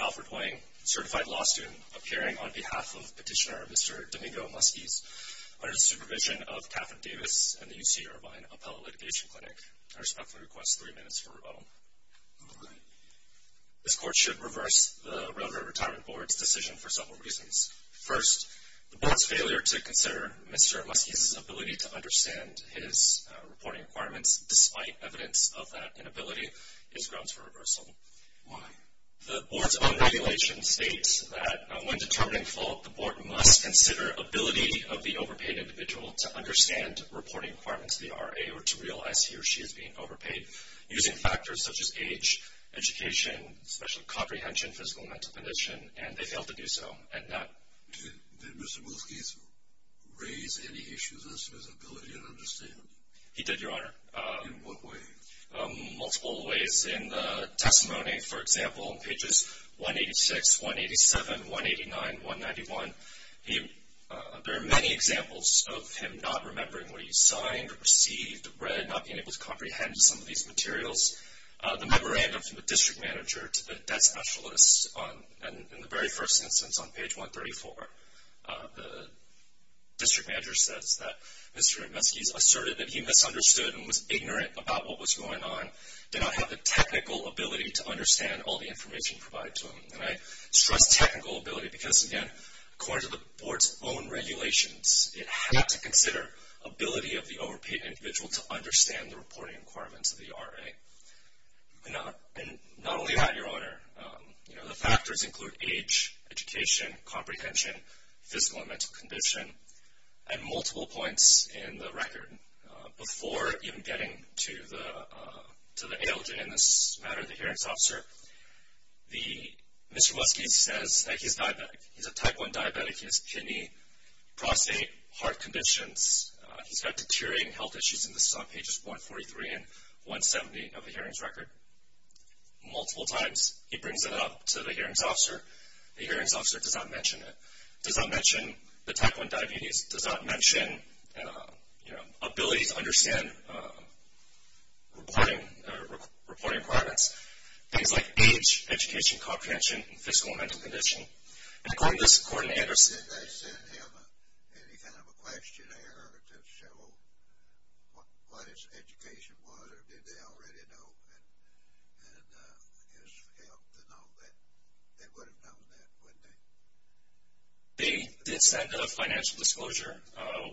Alfred Hwang, Certified Law Student, appearing on behalf of Petitioner Mr. Domingo Musquiz under the supervision of Catherine Davis and the UC Irvine Appellate Litigation Clinic. I respectfully request three minutes for rebuttal. This court should reverse the Railroad Retirement Board's decision for several reasons. First, the Board's failure to consider Mr. Musquiz's ability to understand his reporting requirements, despite evidence of that inability, is grounds for reversal. Why? The Board's unregulation states that, when determining fault, the Board must consider ability of the overpaid individual to understand reporting requirements of the RA or to realize he or she is being overpaid, using factors such as age, education, special comprehension, physical and mental condition, and they failed to do so. Did Mr. Musquiz raise any issues as to his ability to understand? He did, Your Honor. In what way? Multiple ways. In the testimony, for example, in pages 186, 187, 189, 191, there are many examples of him not remembering what he signed or received, read, not being able to comprehend some of these materials. The memorandum from the district manager to the debt specialist in the very first instance on page 134, the district manager says that Mr. Musquiz asserted that he misunderstood and was ignorant about what was going on, did not have the technical ability to understand all the information provided to him. And I stress technical ability because, again, according to the Board's own regulations, it had to consider ability of the overpaid individual to understand the reporting requirements of the RA. And not only that, Your Honor, the factors include age, education, comprehension, physical and mental condition, and multiple points in the record. Before even getting to the ALJ in this matter, the hearings officer, Mr. Musquiz says that he's diabetic. He's a type 1 diabetic. He has kidney, prostate, heart conditions. He's got deteriorating health issues, and this is on pages 143 and 170 of the hearings record. Multiple times he brings it up to the hearings officer. The hearings officer does not mention it, does not mention the type 1 diabetes, does not mention, you know, ability to understand reporting requirements, things like age, education, comprehension, and physical and mental condition. Did they send him any kind of a questionnaire to show what his education was, or did they already know his health and all that? They would have known that, wouldn't they? They did send a financial disclosure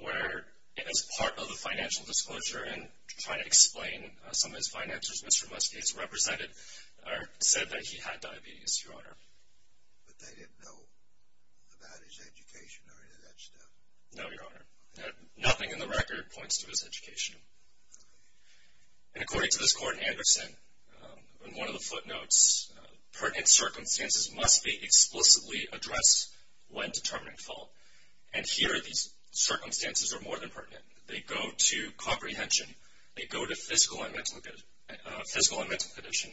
where, as part of the financial disclosure and trying to explain some of his finances, Mr. Musquiz said that he had diabetes, Your Honor. But they didn't know about his education or any of that stuff? No, Your Honor. Nothing in the record points to his education. And according to this court in Anderson, in one of the footnotes, pertinent circumstances must be explicitly addressed when determining fault. And here these circumstances are more than pertinent. They go to comprehension. They go to physical and mental condition.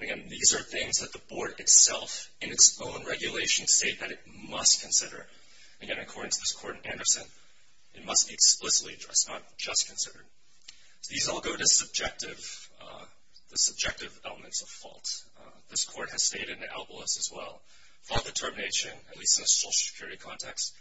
Again, these are things that the board itself, in its own regulation, state that it must consider. Again, according to this court in Anderson, it must be explicitly addressed, not just considered. These all go to subjective elements of fault. This court has stated in the alibis as well, fault determination, at least in a social security context,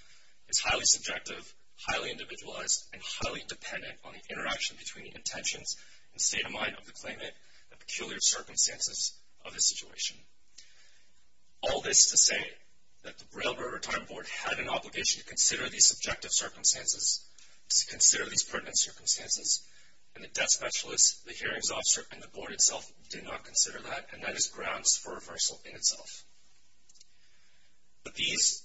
is highly subjective, highly individualized, and highly dependent on the interaction between the intentions and state of mind of the claimant, the peculiar circumstances of the situation. All this to say that the Railroad Retirement Board had an obligation to consider these subjective circumstances, to consider these pertinent circumstances, and the death specialist, the hearings officer, and the board itself did not consider that, and that is grounds for reversal in itself. But these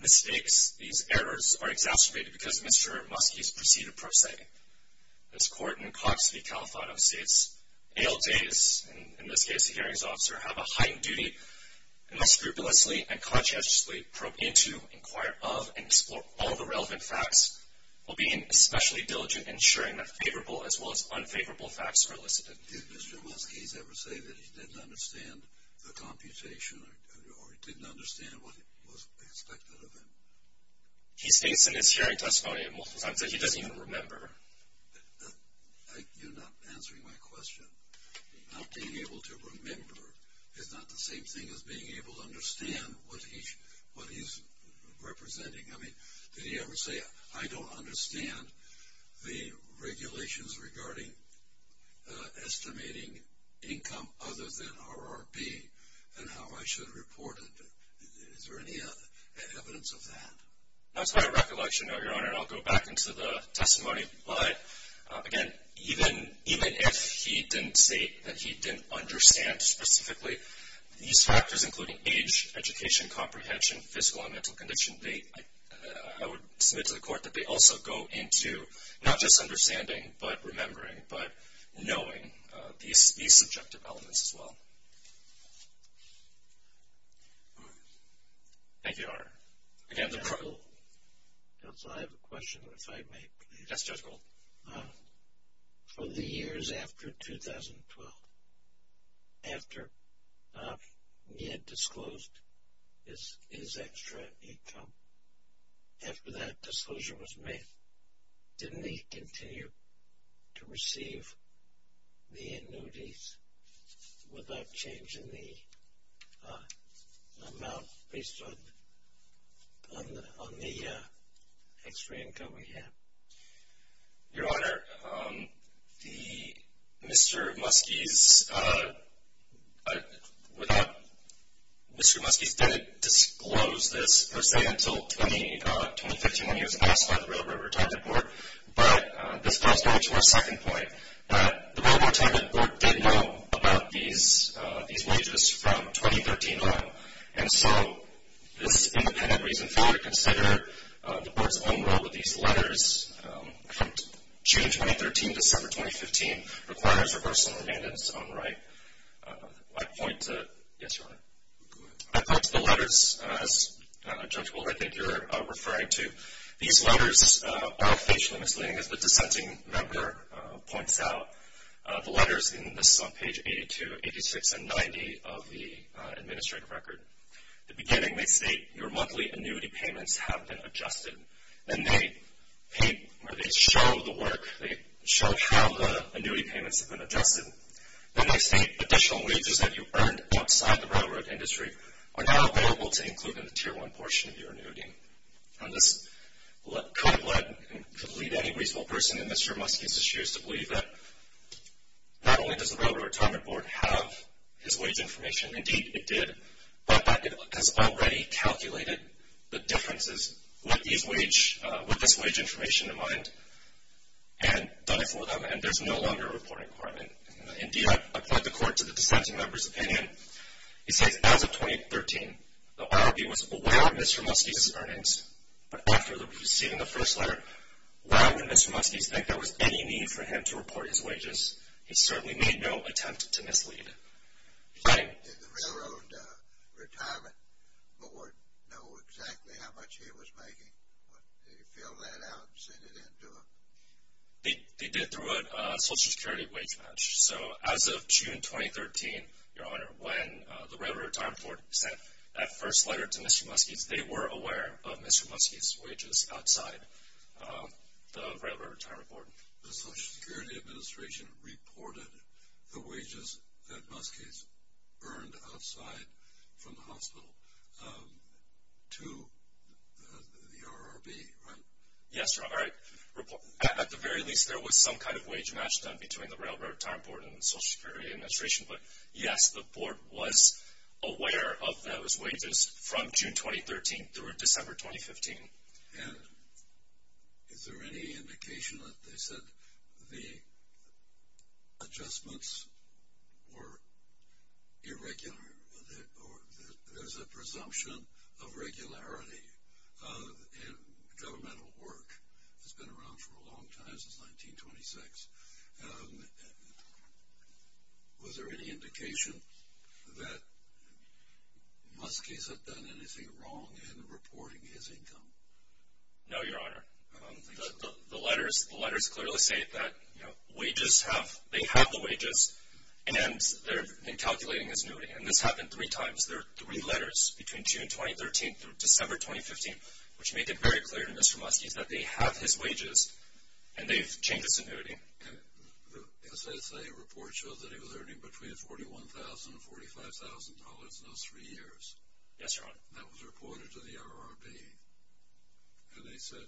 mistakes, these errors, are exacerbated because Mr. Musquiz preceded pro se. This court in Cox v. Califano states, ALJs, in this case the hearings officer, have a heightened duty and must scrupulously and conscientiously probe into, inquire of, and explore all the relevant facts, while being especially diligent in ensuring that favorable as well as unfavorable facts are elicited. Did Mr. Musquiz ever say that he didn't understand the computation or he didn't understand what was expected of him? He states in his hearing testimony that he doesn't even remember. You're not answering my question. Not being able to remember is not the same thing as being able to understand what he's representing. Did he ever say, I don't understand the regulations regarding estimating income other than RRP and how I should report it? Is there any evidence of that? That's my recollection, Your Honor, and I'll go back into the testimony. But, again, even if he didn't state that he didn't understand specifically, these factors including age, education, comprehension, physical and mental condition, I would submit to the court that they also go into not just understanding but remembering, but knowing these subjective elements as well. Thank you, Your Honor. I have a question if I may. Yes, Judge Gold. For the years after 2012, after he had disclosed his extra income, after that disclosure was made, didn't he continue to receive the annuities without changing the amount based on the extra income he had? Your Honor, Mr. Muskies didn't disclose this, per se, until 2015 when he was asked by the Railroad Retirement Board. But this goes back to our second point. The Railroad Retirement Board did know about these wages from 2013 on. And so this independent reason failure to consider the Board's own role with these letters from June 2013 to December 2015 requires reversal of remand in its own right. I point to the letters, as, Judge Gold, I think you're referring to. These letters are facially misleading, as the dissenting member points out. The letters, and this is on page 82, 86, and 90 of the administrative record. At the beginning, they state your monthly annuity payments have been adjusted. Then they show the work. They show how the annuity payments have been adjusted. Then they state additional wages that you earned outside the railroad industry are now available to include in the Tier 1 portion of your annuity. And this could have led any reasonable person in Mr. Muskies' shoes to believe that not only does the Railroad Retirement Board have his wage information, indeed it did, but that it has already calculated the differences with this wage information in mind and done it for them, and there's no longer a reporting requirement. Indeed, I point the Court to the dissenting member's opinion. He says, as of 2013, the IRB was aware of Mr. Muskies' earnings, but after receiving the first letter, why would Mr. Muskies think there was any need for him to report his wages? He certainly made no attempt to mislead. Did the Railroad Retirement Board know exactly how much he was making? Did he fill that out and send it in to them? They did through a Social Security wage match. So as of June 2013, Your Honor, when the Railroad Retirement Board sent that first letter to Mr. Muskies, they were aware of Mr. Muskies' wages outside the Railroad Retirement Board. The Social Security Administration reported the wages that Muskies earned outside from the hospital to the IRB, right? Yes, Your Honor. At the very least, there was some kind of wage match done between the Railroad Retirement Board and the Social Security Administration, but yes, the Board was aware of those wages from June 2013 through December 2015. And is there any indication that they said the adjustments were irregular or there's a presumption of regularity in governmental work? It's been around for a long time, since 1926. Was there any indication that Muskies had done anything wrong in reporting his income? No, Your Honor. The letters clearly state that they have the wages and they're calculating his annuity. And this happened three times. There are three letters between June 2013 through December 2015, which make it very clear to Mr. Muskies that they have his wages and they've changed his annuity. And the SSA report shows that he was earning between $41,000 and $45,000 in those three years. Yes, Your Honor. That was reported to the IRB. And they said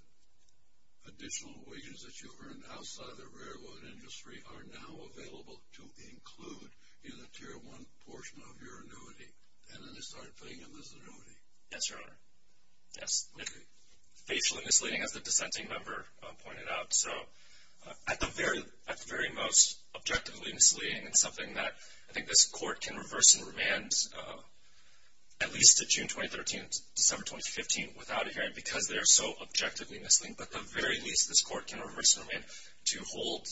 additional wages that you've earned outside the railroad industry are now available to include in the Tier 1 portion of your annuity. And then they started paying him his annuity. Yes, Your Honor. Yes. Facially misleading, as the dissenting member pointed out. So at the very most, objectively misleading, and something that I think this Court can reverse and remand at least to June 2013 to December 2015 without a hearing because they are so objectively misleading. But at the very least, this Court can reverse and remand to hold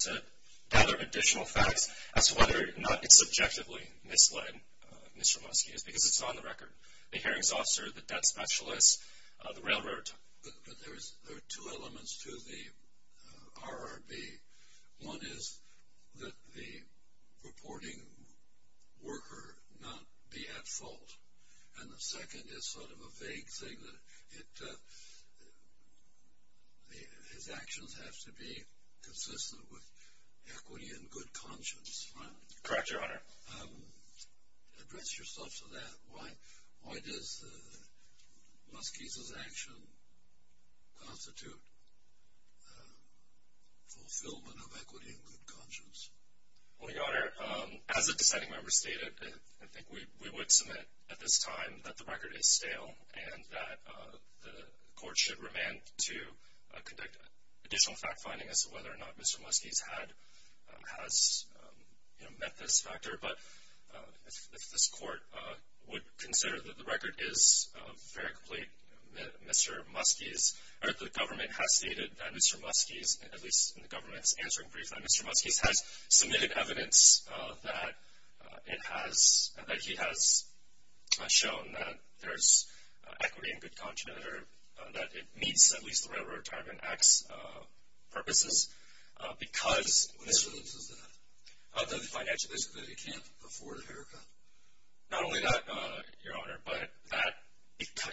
to gather additional facts as to whether or not it's subjectively misled Mr. Muskies because it's on the record. The hearings officer, the debt specialist, the railroad. But there are two elements to the IRB. One is that the reporting worker not be at fault. And the second is sort of a vague thing. His actions have to be consistent with equity and good conscience. Correct, Your Honor. Address yourself to that. Why does Muskies' action constitute fulfillment of equity and good conscience? Well, Your Honor, as the dissenting member stated, I think we would submit at this time that the record is stale and that the Court should remand to conduct additional fact-finding as to whether or not Mr. Muskies has met this factor. But if this Court would consider that the record is very complete, Mr. Muskies, or the government has stated that Mr. Muskies, at least in the government's answering brief, that Mr. Muskies has submitted evidence that he has shown that there's equity and good conscience or that it meets at least the Railroad Retirement Act's purposes because What evidence is that? That the financial disability can't afford a haircut. Not only that, Your Honor, but that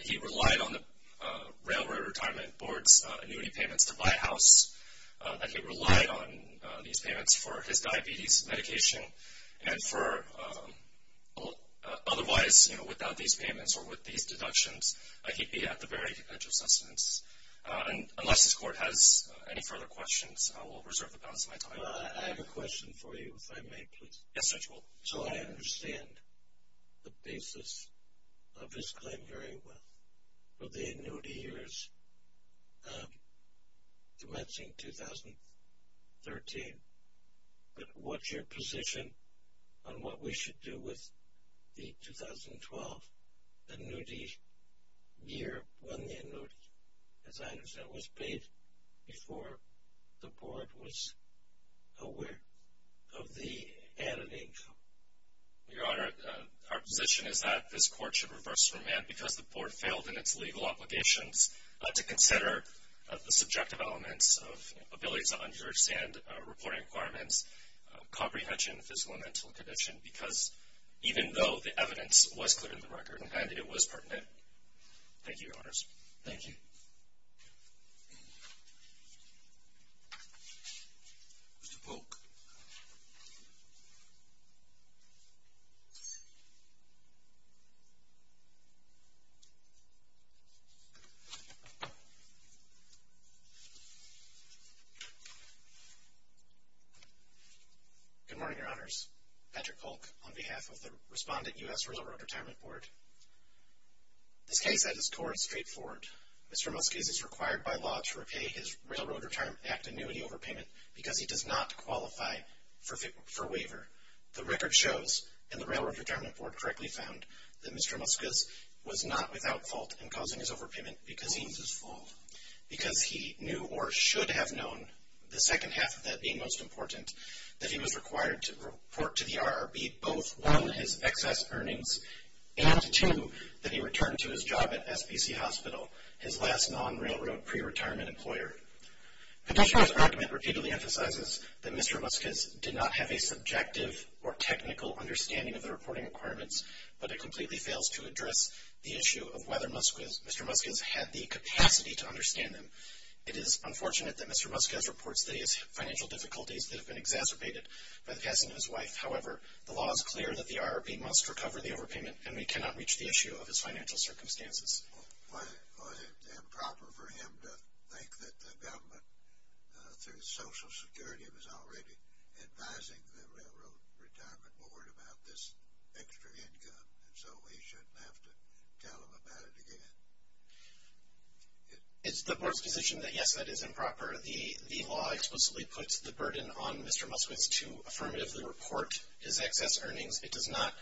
he relied on the Railroad Retirement Board's annuity payments to buy a house, that he relied on these payments for his diabetes medication, and for otherwise, you know, without these payments or with these deductions, he'd be at the very edge of sustenance. Unless this Court has any further questions, I will reserve the balance of my time. I have a question for you, if I may, please. Yes, Your Honor. So, I understand the basis of this claim very well, of the annuity years commencing 2013, but what's your position on what we should do with the 2012 annuity year when the annuity, as I understand, was paid before the Board was aware of the added income? Your Honor, our position is that this Court should reverse remand because the Board failed in its legal obligations to consider the subjective elements of abilities to understand reporting requirements, comprehension of physical and mental condition, because even though the evidence was clear in the record and it was pertinent. Thank you, Your Honors. Thank you. Mr. Polk. Good morning, Your Honors. Patrick Polk on behalf of the Respondent U.S. Reservoir Retirement Board. This case, at its core, is straightforward. Mr. Muska is required by law to repay his Railroad Retirement Act annuity overpayment because he does not qualify for waiver. The record shows, and the Railroad Retirement Board correctly found, that Mr. Muska was not without fault in causing his overpayment because he was at fault, because he knew or should have known, the second half of that being most important, that he was required to report to the RRB both, one, his excess earnings, and, two, that he return to his job at SBC Hospital, his last non-Railroad pre-retirement employer. Petitioner's argument repeatedly emphasizes that Mr. Muska did not have a subjective or technical understanding of the reporting requirements, but it completely fails to address the issue of whether Mr. Muska had the capacity to understand them. It is unfortunate that Mr. Muska has reports that he has financial difficulties that have been exacerbated by the passing of his wife. However, the law is clear that the RRB must recover the overpayment, and we cannot reach the issue of his financial circumstances. Was it improper for him to think that the government, through Social Security, was already advising the Railroad Retirement Board about this extra income, and so he shouldn't have to tell them about it again? It's the Board's position that, yes, that is improper. The law explicitly puts the burden on Mr. Muska to affirmatively report his excess earnings. It does not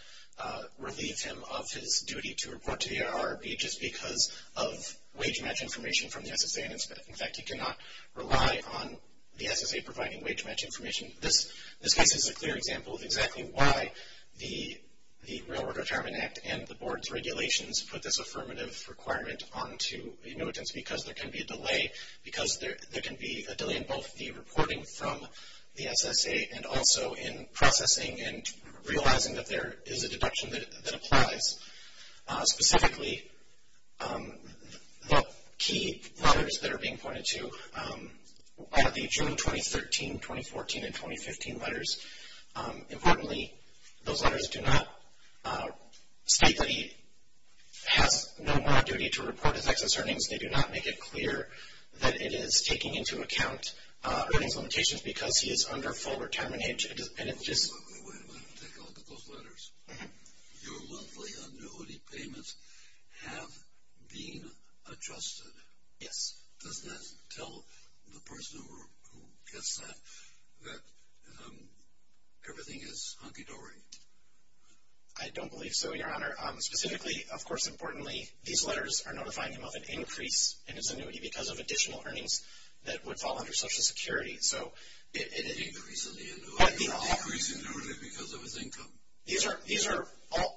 relieve him of his duty to report to the RRB just because of wage match information from the SSA. In fact, he cannot rely on the SSA providing wage match information. This case is a clear example of exactly why the Railroad Retirement Act and the Board's regulations put this affirmative requirement onto annuitants, because there can be a delay in both the reporting from the SSA and also in processing and realizing that there is a deduction that applies. Specifically, the key letters that are being pointed to are the June 2013, 2014, and 2015 letters. Importantly, those letters do not state that he has no more duty to report his excess earnings. They do not make it clear that it is taking into account earnings limitations because he is under full retirement age. Wait a minute. Take a look at those letters. Your monthly annuity payments have been adjusted. Yes. Does that tell the person who gets that that everything is hunky-dory? I don't believe so, Your Honor. Specifically, of course, importantly, these letters are notifying him of an increase in his annuity because of additional earnings that would fall under Social Security. An increase in the annuity because of his income?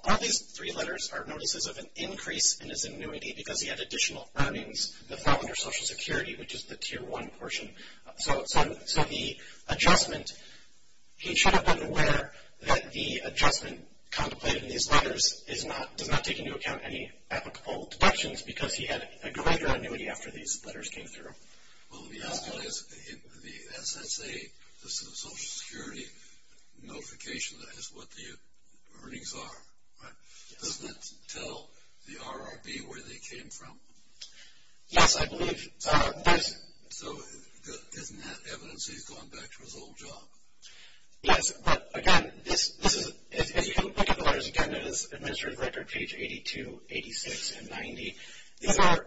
All these three letters are notices of an increase in his annuity because he had additional earnings that fell under Social Security, which is the Tier 1 portion. So the adjustment, he should have been aware that the adjustment contemplated in these letters does not take into account any applicable deductions because he had a greater annuity after these letters came through. Well, let me ask you this. The SSA, the Social Security notification, is what the earnings are, right? Doesn't that tell the RRB where they came from? Yes, I believe. So doesn't that evidence he's going back to his old job? Yes, but, again, as you can look at the letters, again, it is administrative record page 82, 86, and 90. These are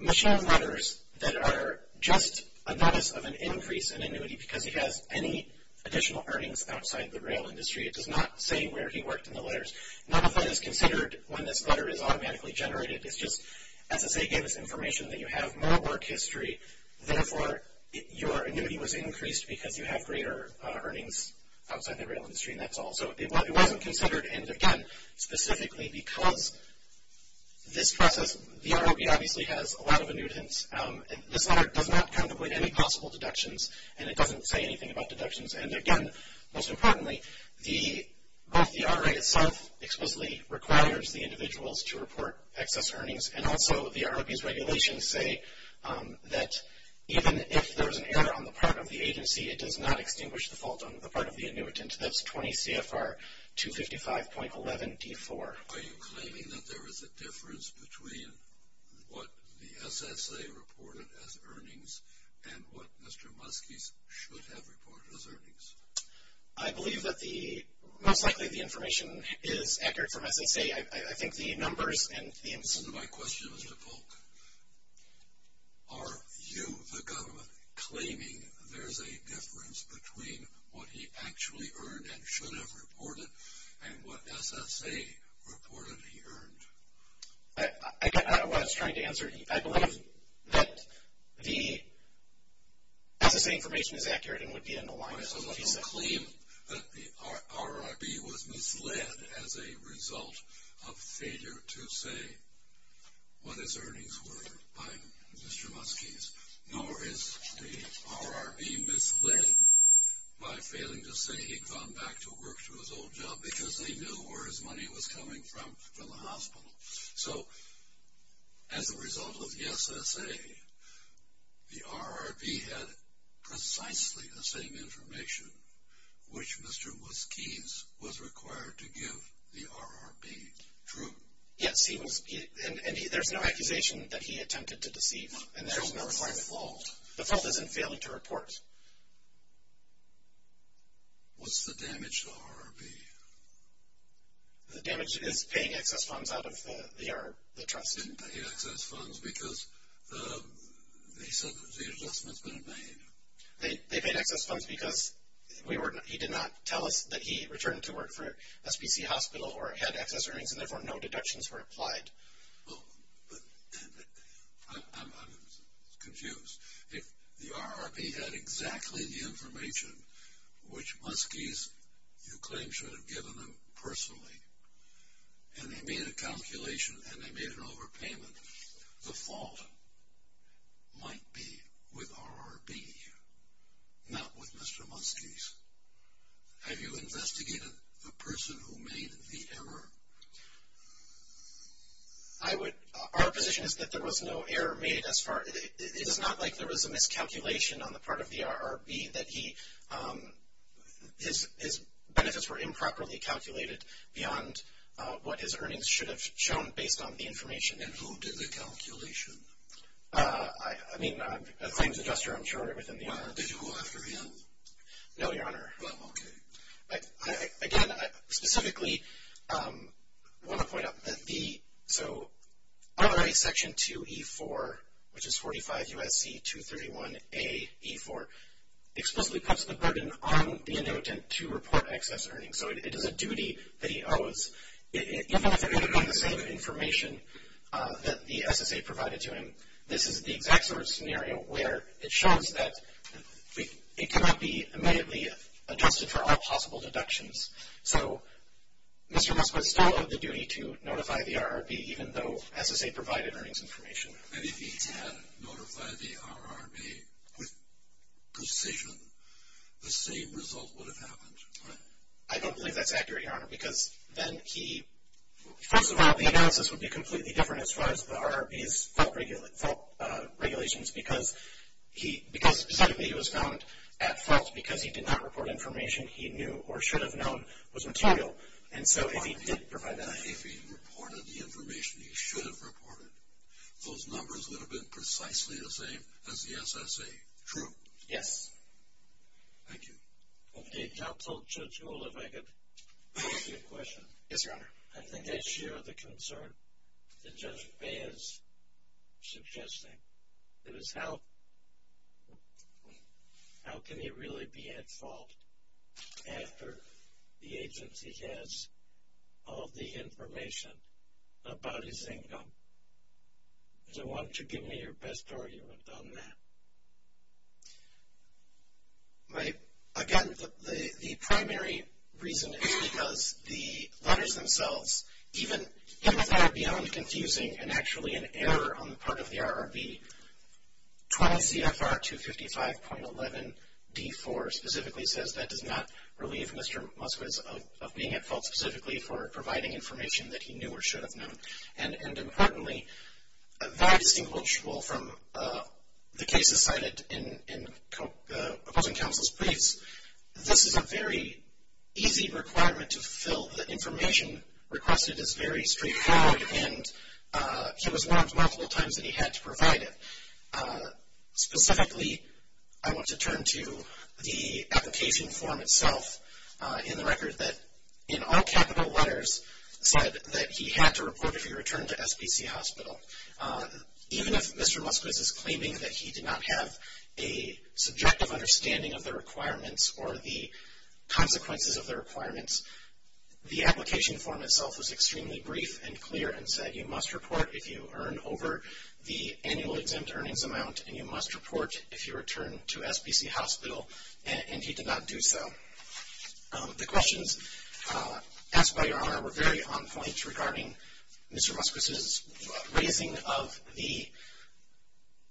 machine letters that are just a notice of an increase in annuity because he has any additional earnings outside the rail industry. It does not say where he worked in the letters. None of that is considered when this letter is automatically generated. It's just SSA gave us information that you have more work history. Therefore, your annuity was increased because you have greater earnings outside the rail industry, and that's all. So it wasn't considered, and, again, specifically because this process, the RRB obviously has a lot of annuitants. This letter does not contemplate any possible deductions, and it doesn't say anything about deductions. And, again, most importantly, both the RRB itself explicitly requires the individuals to report excess earnings, and also the RRB's regulations say that even if there's an error on the part of the agency, it does not extinguish the fault on the part of the annuitant. That's 20 CFR 255.11d4. Are you claiming that there is a difference between what the SSA reported as earnings and what Mr. Muskie's should have reported as earnings? I believe that most likely the information is accurate from SSA. I think the numbers and the... My question is to Polk. Are you, the government, claiming there's a difference between what he actually earned and should have reported and what SSA reported he earned? I got out of what I was trying to answer. I believe that the SSA information is accurate and would be in alignment with what he said. Are you claiming that the RRB was misled as a result of failure to say what his earnings were by Mr. Muskie's, nor is the RRB misled by failing to say he'd gone back to work to his old job because they knew where his money was coming from from the hospital? So as a result of the SSA, the RRB had precisely the same information which Mr. Muskie's was required to give the RRB. True? Yes, and there's no accusation that he attempted to deceive. So it's not his fault? The fault is in failing to report. What's the damage to the RRB? The damage is paying excess funds out of the trust. They didn't pay excess funds because the adjustments were made. They paid excess funds because he did not tell us that he returned to work for SPC Hospital or had excess earnings, and therefore no deductions were applied. Well, I'm confused. If the RRB had exactly the information which Muskie's, you claim, should have given them personally, and they made a calculation and they made an overpayment, the fault might be with RRB, not with Mr. Muskie's. Have you investigated the person who made the error? Our position is that there was no error made. It is not like there was a miscalculation on the part of the RRB, that his benefits were improperly calculated beyond what his earnings should have shown based on the information. And who did the calculation? I mean, a claims adjuster, I'm sure, within the RRB. Did you go after him? No, Your Honor. Well, okay. Again, I specifically want to point out that the RRB Section 2E4, which is 45 U.S.C. 231A.E4, explicitly puts the burden on the inhabitant to report excess earnings. So it is a duty that he owes. Even if it had been the same information that the SSA provided to him, this is the exact sort of scenario where it shows that it cannot be immediately adjusted for all possible deductions. So Mr. Musk was still of the duty to notify the RRB, even though SSA provided earnings information. And if he had notified the RRB with precision, the same result would have happened, right? I don't believe that's accurate, Your Honor, because then he, first of all, the analysis would be completely different as far as the RRB's fault regulations, because he was found at fault because he did not report information he knew or should have known was material. And so if he did provide that information, if he reported the information he should have reported, those numbers would have been precisely the same as the SSA. True? Yes. Thank you. Okay, I'll tell Judge Gould if I could ask you a question. Yes, Your Honor. I think I share the concern that Judge Fahy is suggesting. It was how can he really be at fault after the agency has all the information about his income? So why don't you give me your best argument on that? Again, the primary reason is because the letters themselves, even if they're beyond confusing and actually an error on the part of the RRB, 20 CFR 255.11 D4 specifically says that does not relieve Mr. Musquiz of being at fault specifically for providing information that he knew or should have known. And importantly, very distinguishable from the cases cited in opposing counsel's briefs, this is a very easy requirement to fill. The information requested is very straightforward, and he was warned multiple times that he had to provide it. Specifically, I want to turn to the application form itself in the record that in all capital letters said that he had to report if he returned to SPC Hospital. Even if Mr. Musquiz is claiming that he did not have a subjective understanding of the requirements or the consequences of the requirements, the application form itself was extremely brief and clear and said you must report if you earn over the annual exempt earnings amount, and you must report if you return to SPC Hospital, and he did not do so. The questions asked by Your Honor were very on point regarding Mr. Musquiz's raising of the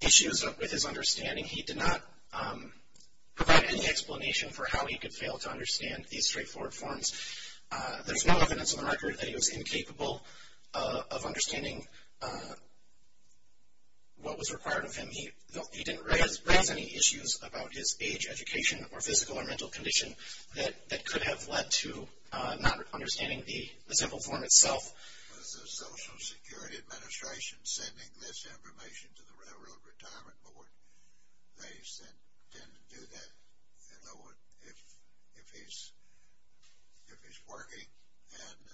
issues with his understanding. He did not provide any explanation for how he could fail to understand these straightforward forms. There's no evidence in the record that he was incapable of understanding what was required of him. He didn't raise any issues about his age, education, or physical or mental condition that could have led to not understanding the simple form itself. Was the Social Security Administration sending this information to the Railroad Retirement Board? They tend to do that if he's working and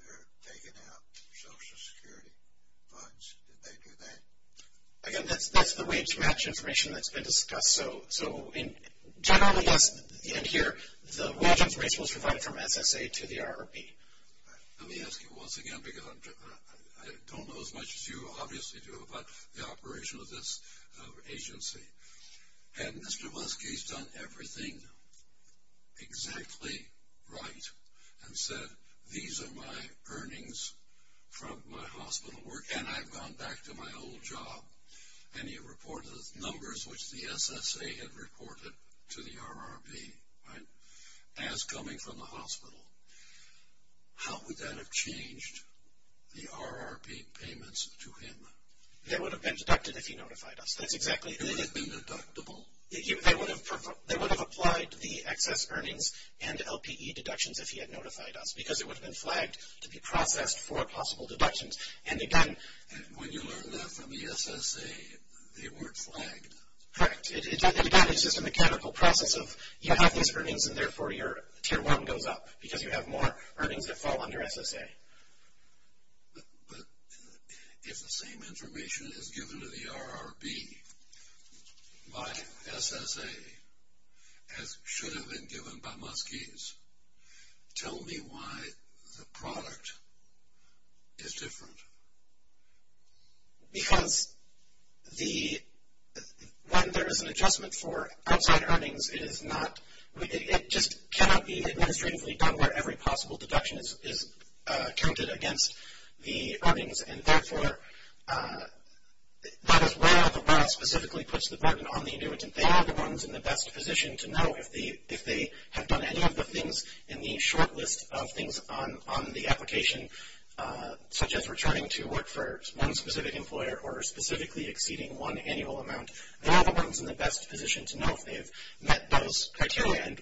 they're taking out Social Security funds. Did they do that? Again, that's the way to match information that's been discussed. So generally, yes, in here, the information was provided from SSA to the ROB. Let me ask you once again because I don't know as much as you obviously do about the operation of this agency. Had Mr. Musquiz done everything exactly right and said these are my earnings from my hospital work and I've gone back to my old job and he reported the numbers which the SSA had reported to the ROB, as coming from the hospital, how would that have changed the ROB payments to him? They would have been deducted if he notified us. That's exactly it. They would have been deductible? They would have applied the excess earnings and LPE deductions if he had notified us because it would have been flagged to be processed for possible deductions. And again... And when you learned that from the SSA, they weren't flagged? Correct. Again, it's just a mechanical process of you have these earnings and therefore your Tier 1 goes up because you have more earnings that fall under SSA. But if the same information is given to the ROB by SSA as should have been given by Musquiz, tell me why the product is different. Because when there is an adjustment for outside earnings, it just cannot be administratively done where every possible deduction is counted against the earnings. And therefore, that is where the ROB specifically puts the burden on the annuitant. They are the ones in the best position to know if they have done any of the things in the short list of things on the application, such as returning to work for one specific employer or specifically exceeding one annual amount. They are the ones in the best position to know if they have met those criteria and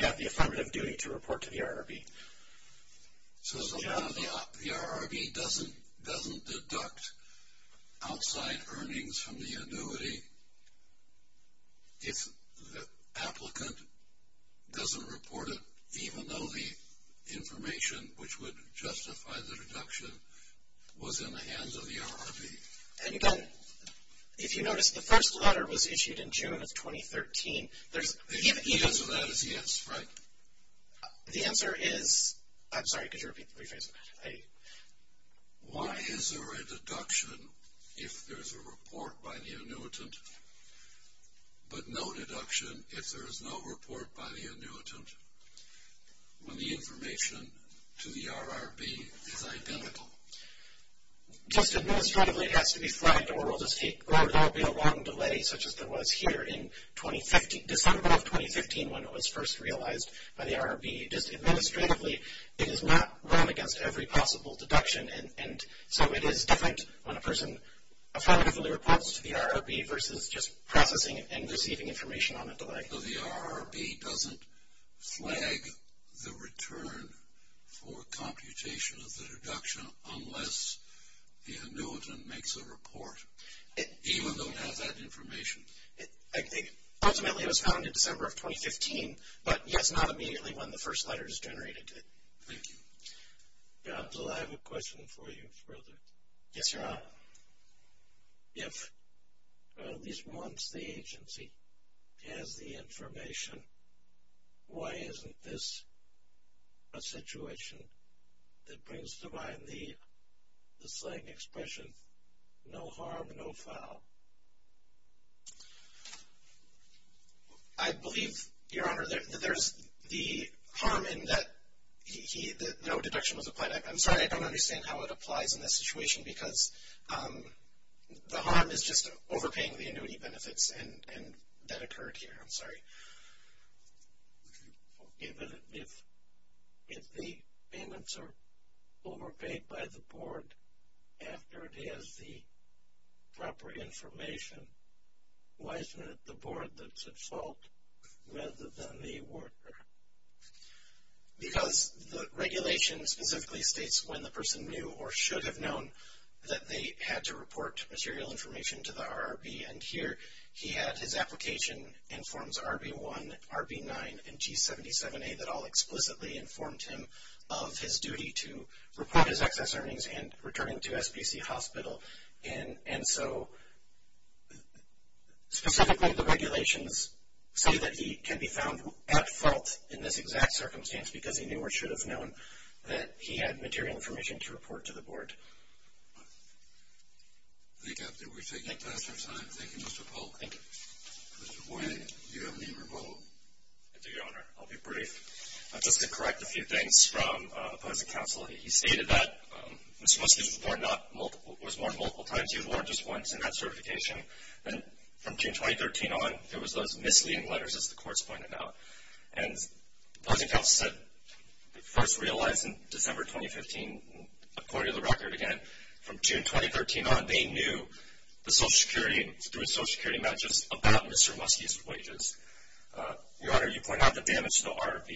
have the affirmative duty to report to the ROB. So the ROB doesn't deduct outside earnings from the annuity if the applicant doesn't report it, even though the information which would justify the deduction was in the hands of the ROB? And again, if you notice, the first letter was issued in June of 2013. If he doesn't have it, he has, right? The answer is, I'm sorry, could you rephrase that? Why is there a deduction if there is a report by the annuitant, but no deduction if there is no report by the annuitant when the information to the ROB is identical? Just administratively, it has to be flagged, or there will be a long delay, such as there was here in December of 2015 when it was first realized by the ROB. Just administratively, it is not run against every possible deduction, and so it is different when a person affirmatively reports to the ROB versus just processing and receiving information on a delay. So the ROB doesn't flag the return for computation of the deduction unless the annuitant makes a report, even though it has that information. I think ultimately it was found in December of 2015, but yes, not immediately when the first letter is generated. Thank you. John, do I have a question for you further? Yes, Your Honor. If at least once the agency has the information, why isn't this a situation that brings to mind the slang expression, no harm, no foul? I believe, Your Honor, that there's the harm in that no deduction was applied. I'm sorry, I don't understand how it applies in this situation, because the harm is just overpaying the annuity benefits, and that occurred here. I'm sorry. If the payments are overpaid by the board after it has the proper information, why isn't it the board that's at fault rather than the awarder? Because the regulation specifically states when the person knew or should have known that they had to report material information to the ROB, and here he had his application in Forms RB1, RB9, and G77A that all explicitly informed him of his duty to report his excess earnings and returning to SPC Hospital. And so, specifically the regulations say that he can be found at fault in this exact circumstance because he knew or should have known that he had material information to report to the board. Thank you. Thank you, Mr. Polk. Thank you. Mr. Boyd, do you have any rebuttal? I do, Your Honor. I'll be brief. Just to correct a few things from opposing counsel. He stated that Mr. Muskie was warned multiple times. He was warned just once in that certification. And from June 2013 on, there was those misleading letters, as the courts pointed out. And opposing counsel said, first realized in December 2015, according to the record again, from June 2013 on, they knew the Social Security matches about Mr. Muskie's wages. Your Honor, you point out the damage to the ROB,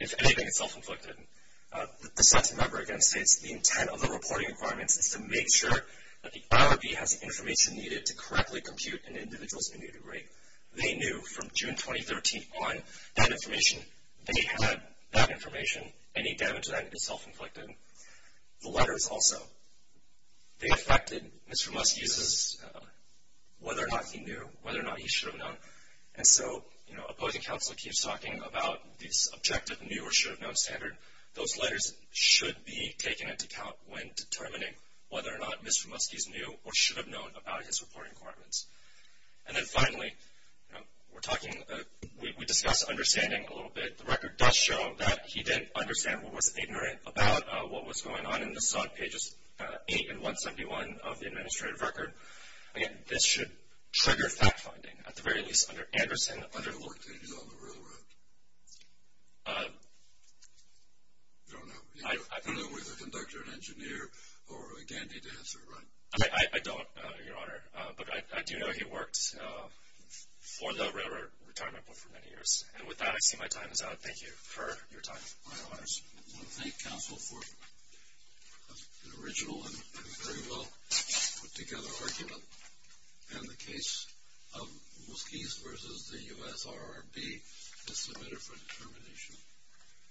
if anything, it's self-inflicted. The second member, again, states the intent of the reporting requirements is to make sure that the ROB has the information needed to correctly compute an individual's immunity rate. They knew from June 2013 on that information. They had that information. Any damage to that is self-inflicted. The letters also. They affected Mr. Muskie's whether or not he knew, whether or not he should have known. And so opposing counsel keeps talking about this objective new or should have known standard. Those letters should be taken into account when determining whether or not Mr. Muskie's knew or should have known about his reporting requirements. And then finally, we're talking, we discussed understanding a little bit. The record does show that he didn't understand or was ignorant about what was going on. And this is on pages 8 and 171 of the administrative record. Again, this should trigger fact-finding, at the very least, under Anderson. I know he worked on the railroad. I don't know. I don't know whether he was a conductor, an engineer, or a dandy dancer, right? I don't, Your Honor, but I do know he worked for the railroad retirement for many years. And with that, I see my time is up. Thank you for your time. My honors. I want to thank counsel for an original and very well put-together argument on the case of Muskie's v. the U.S. RRB as submitted for determination.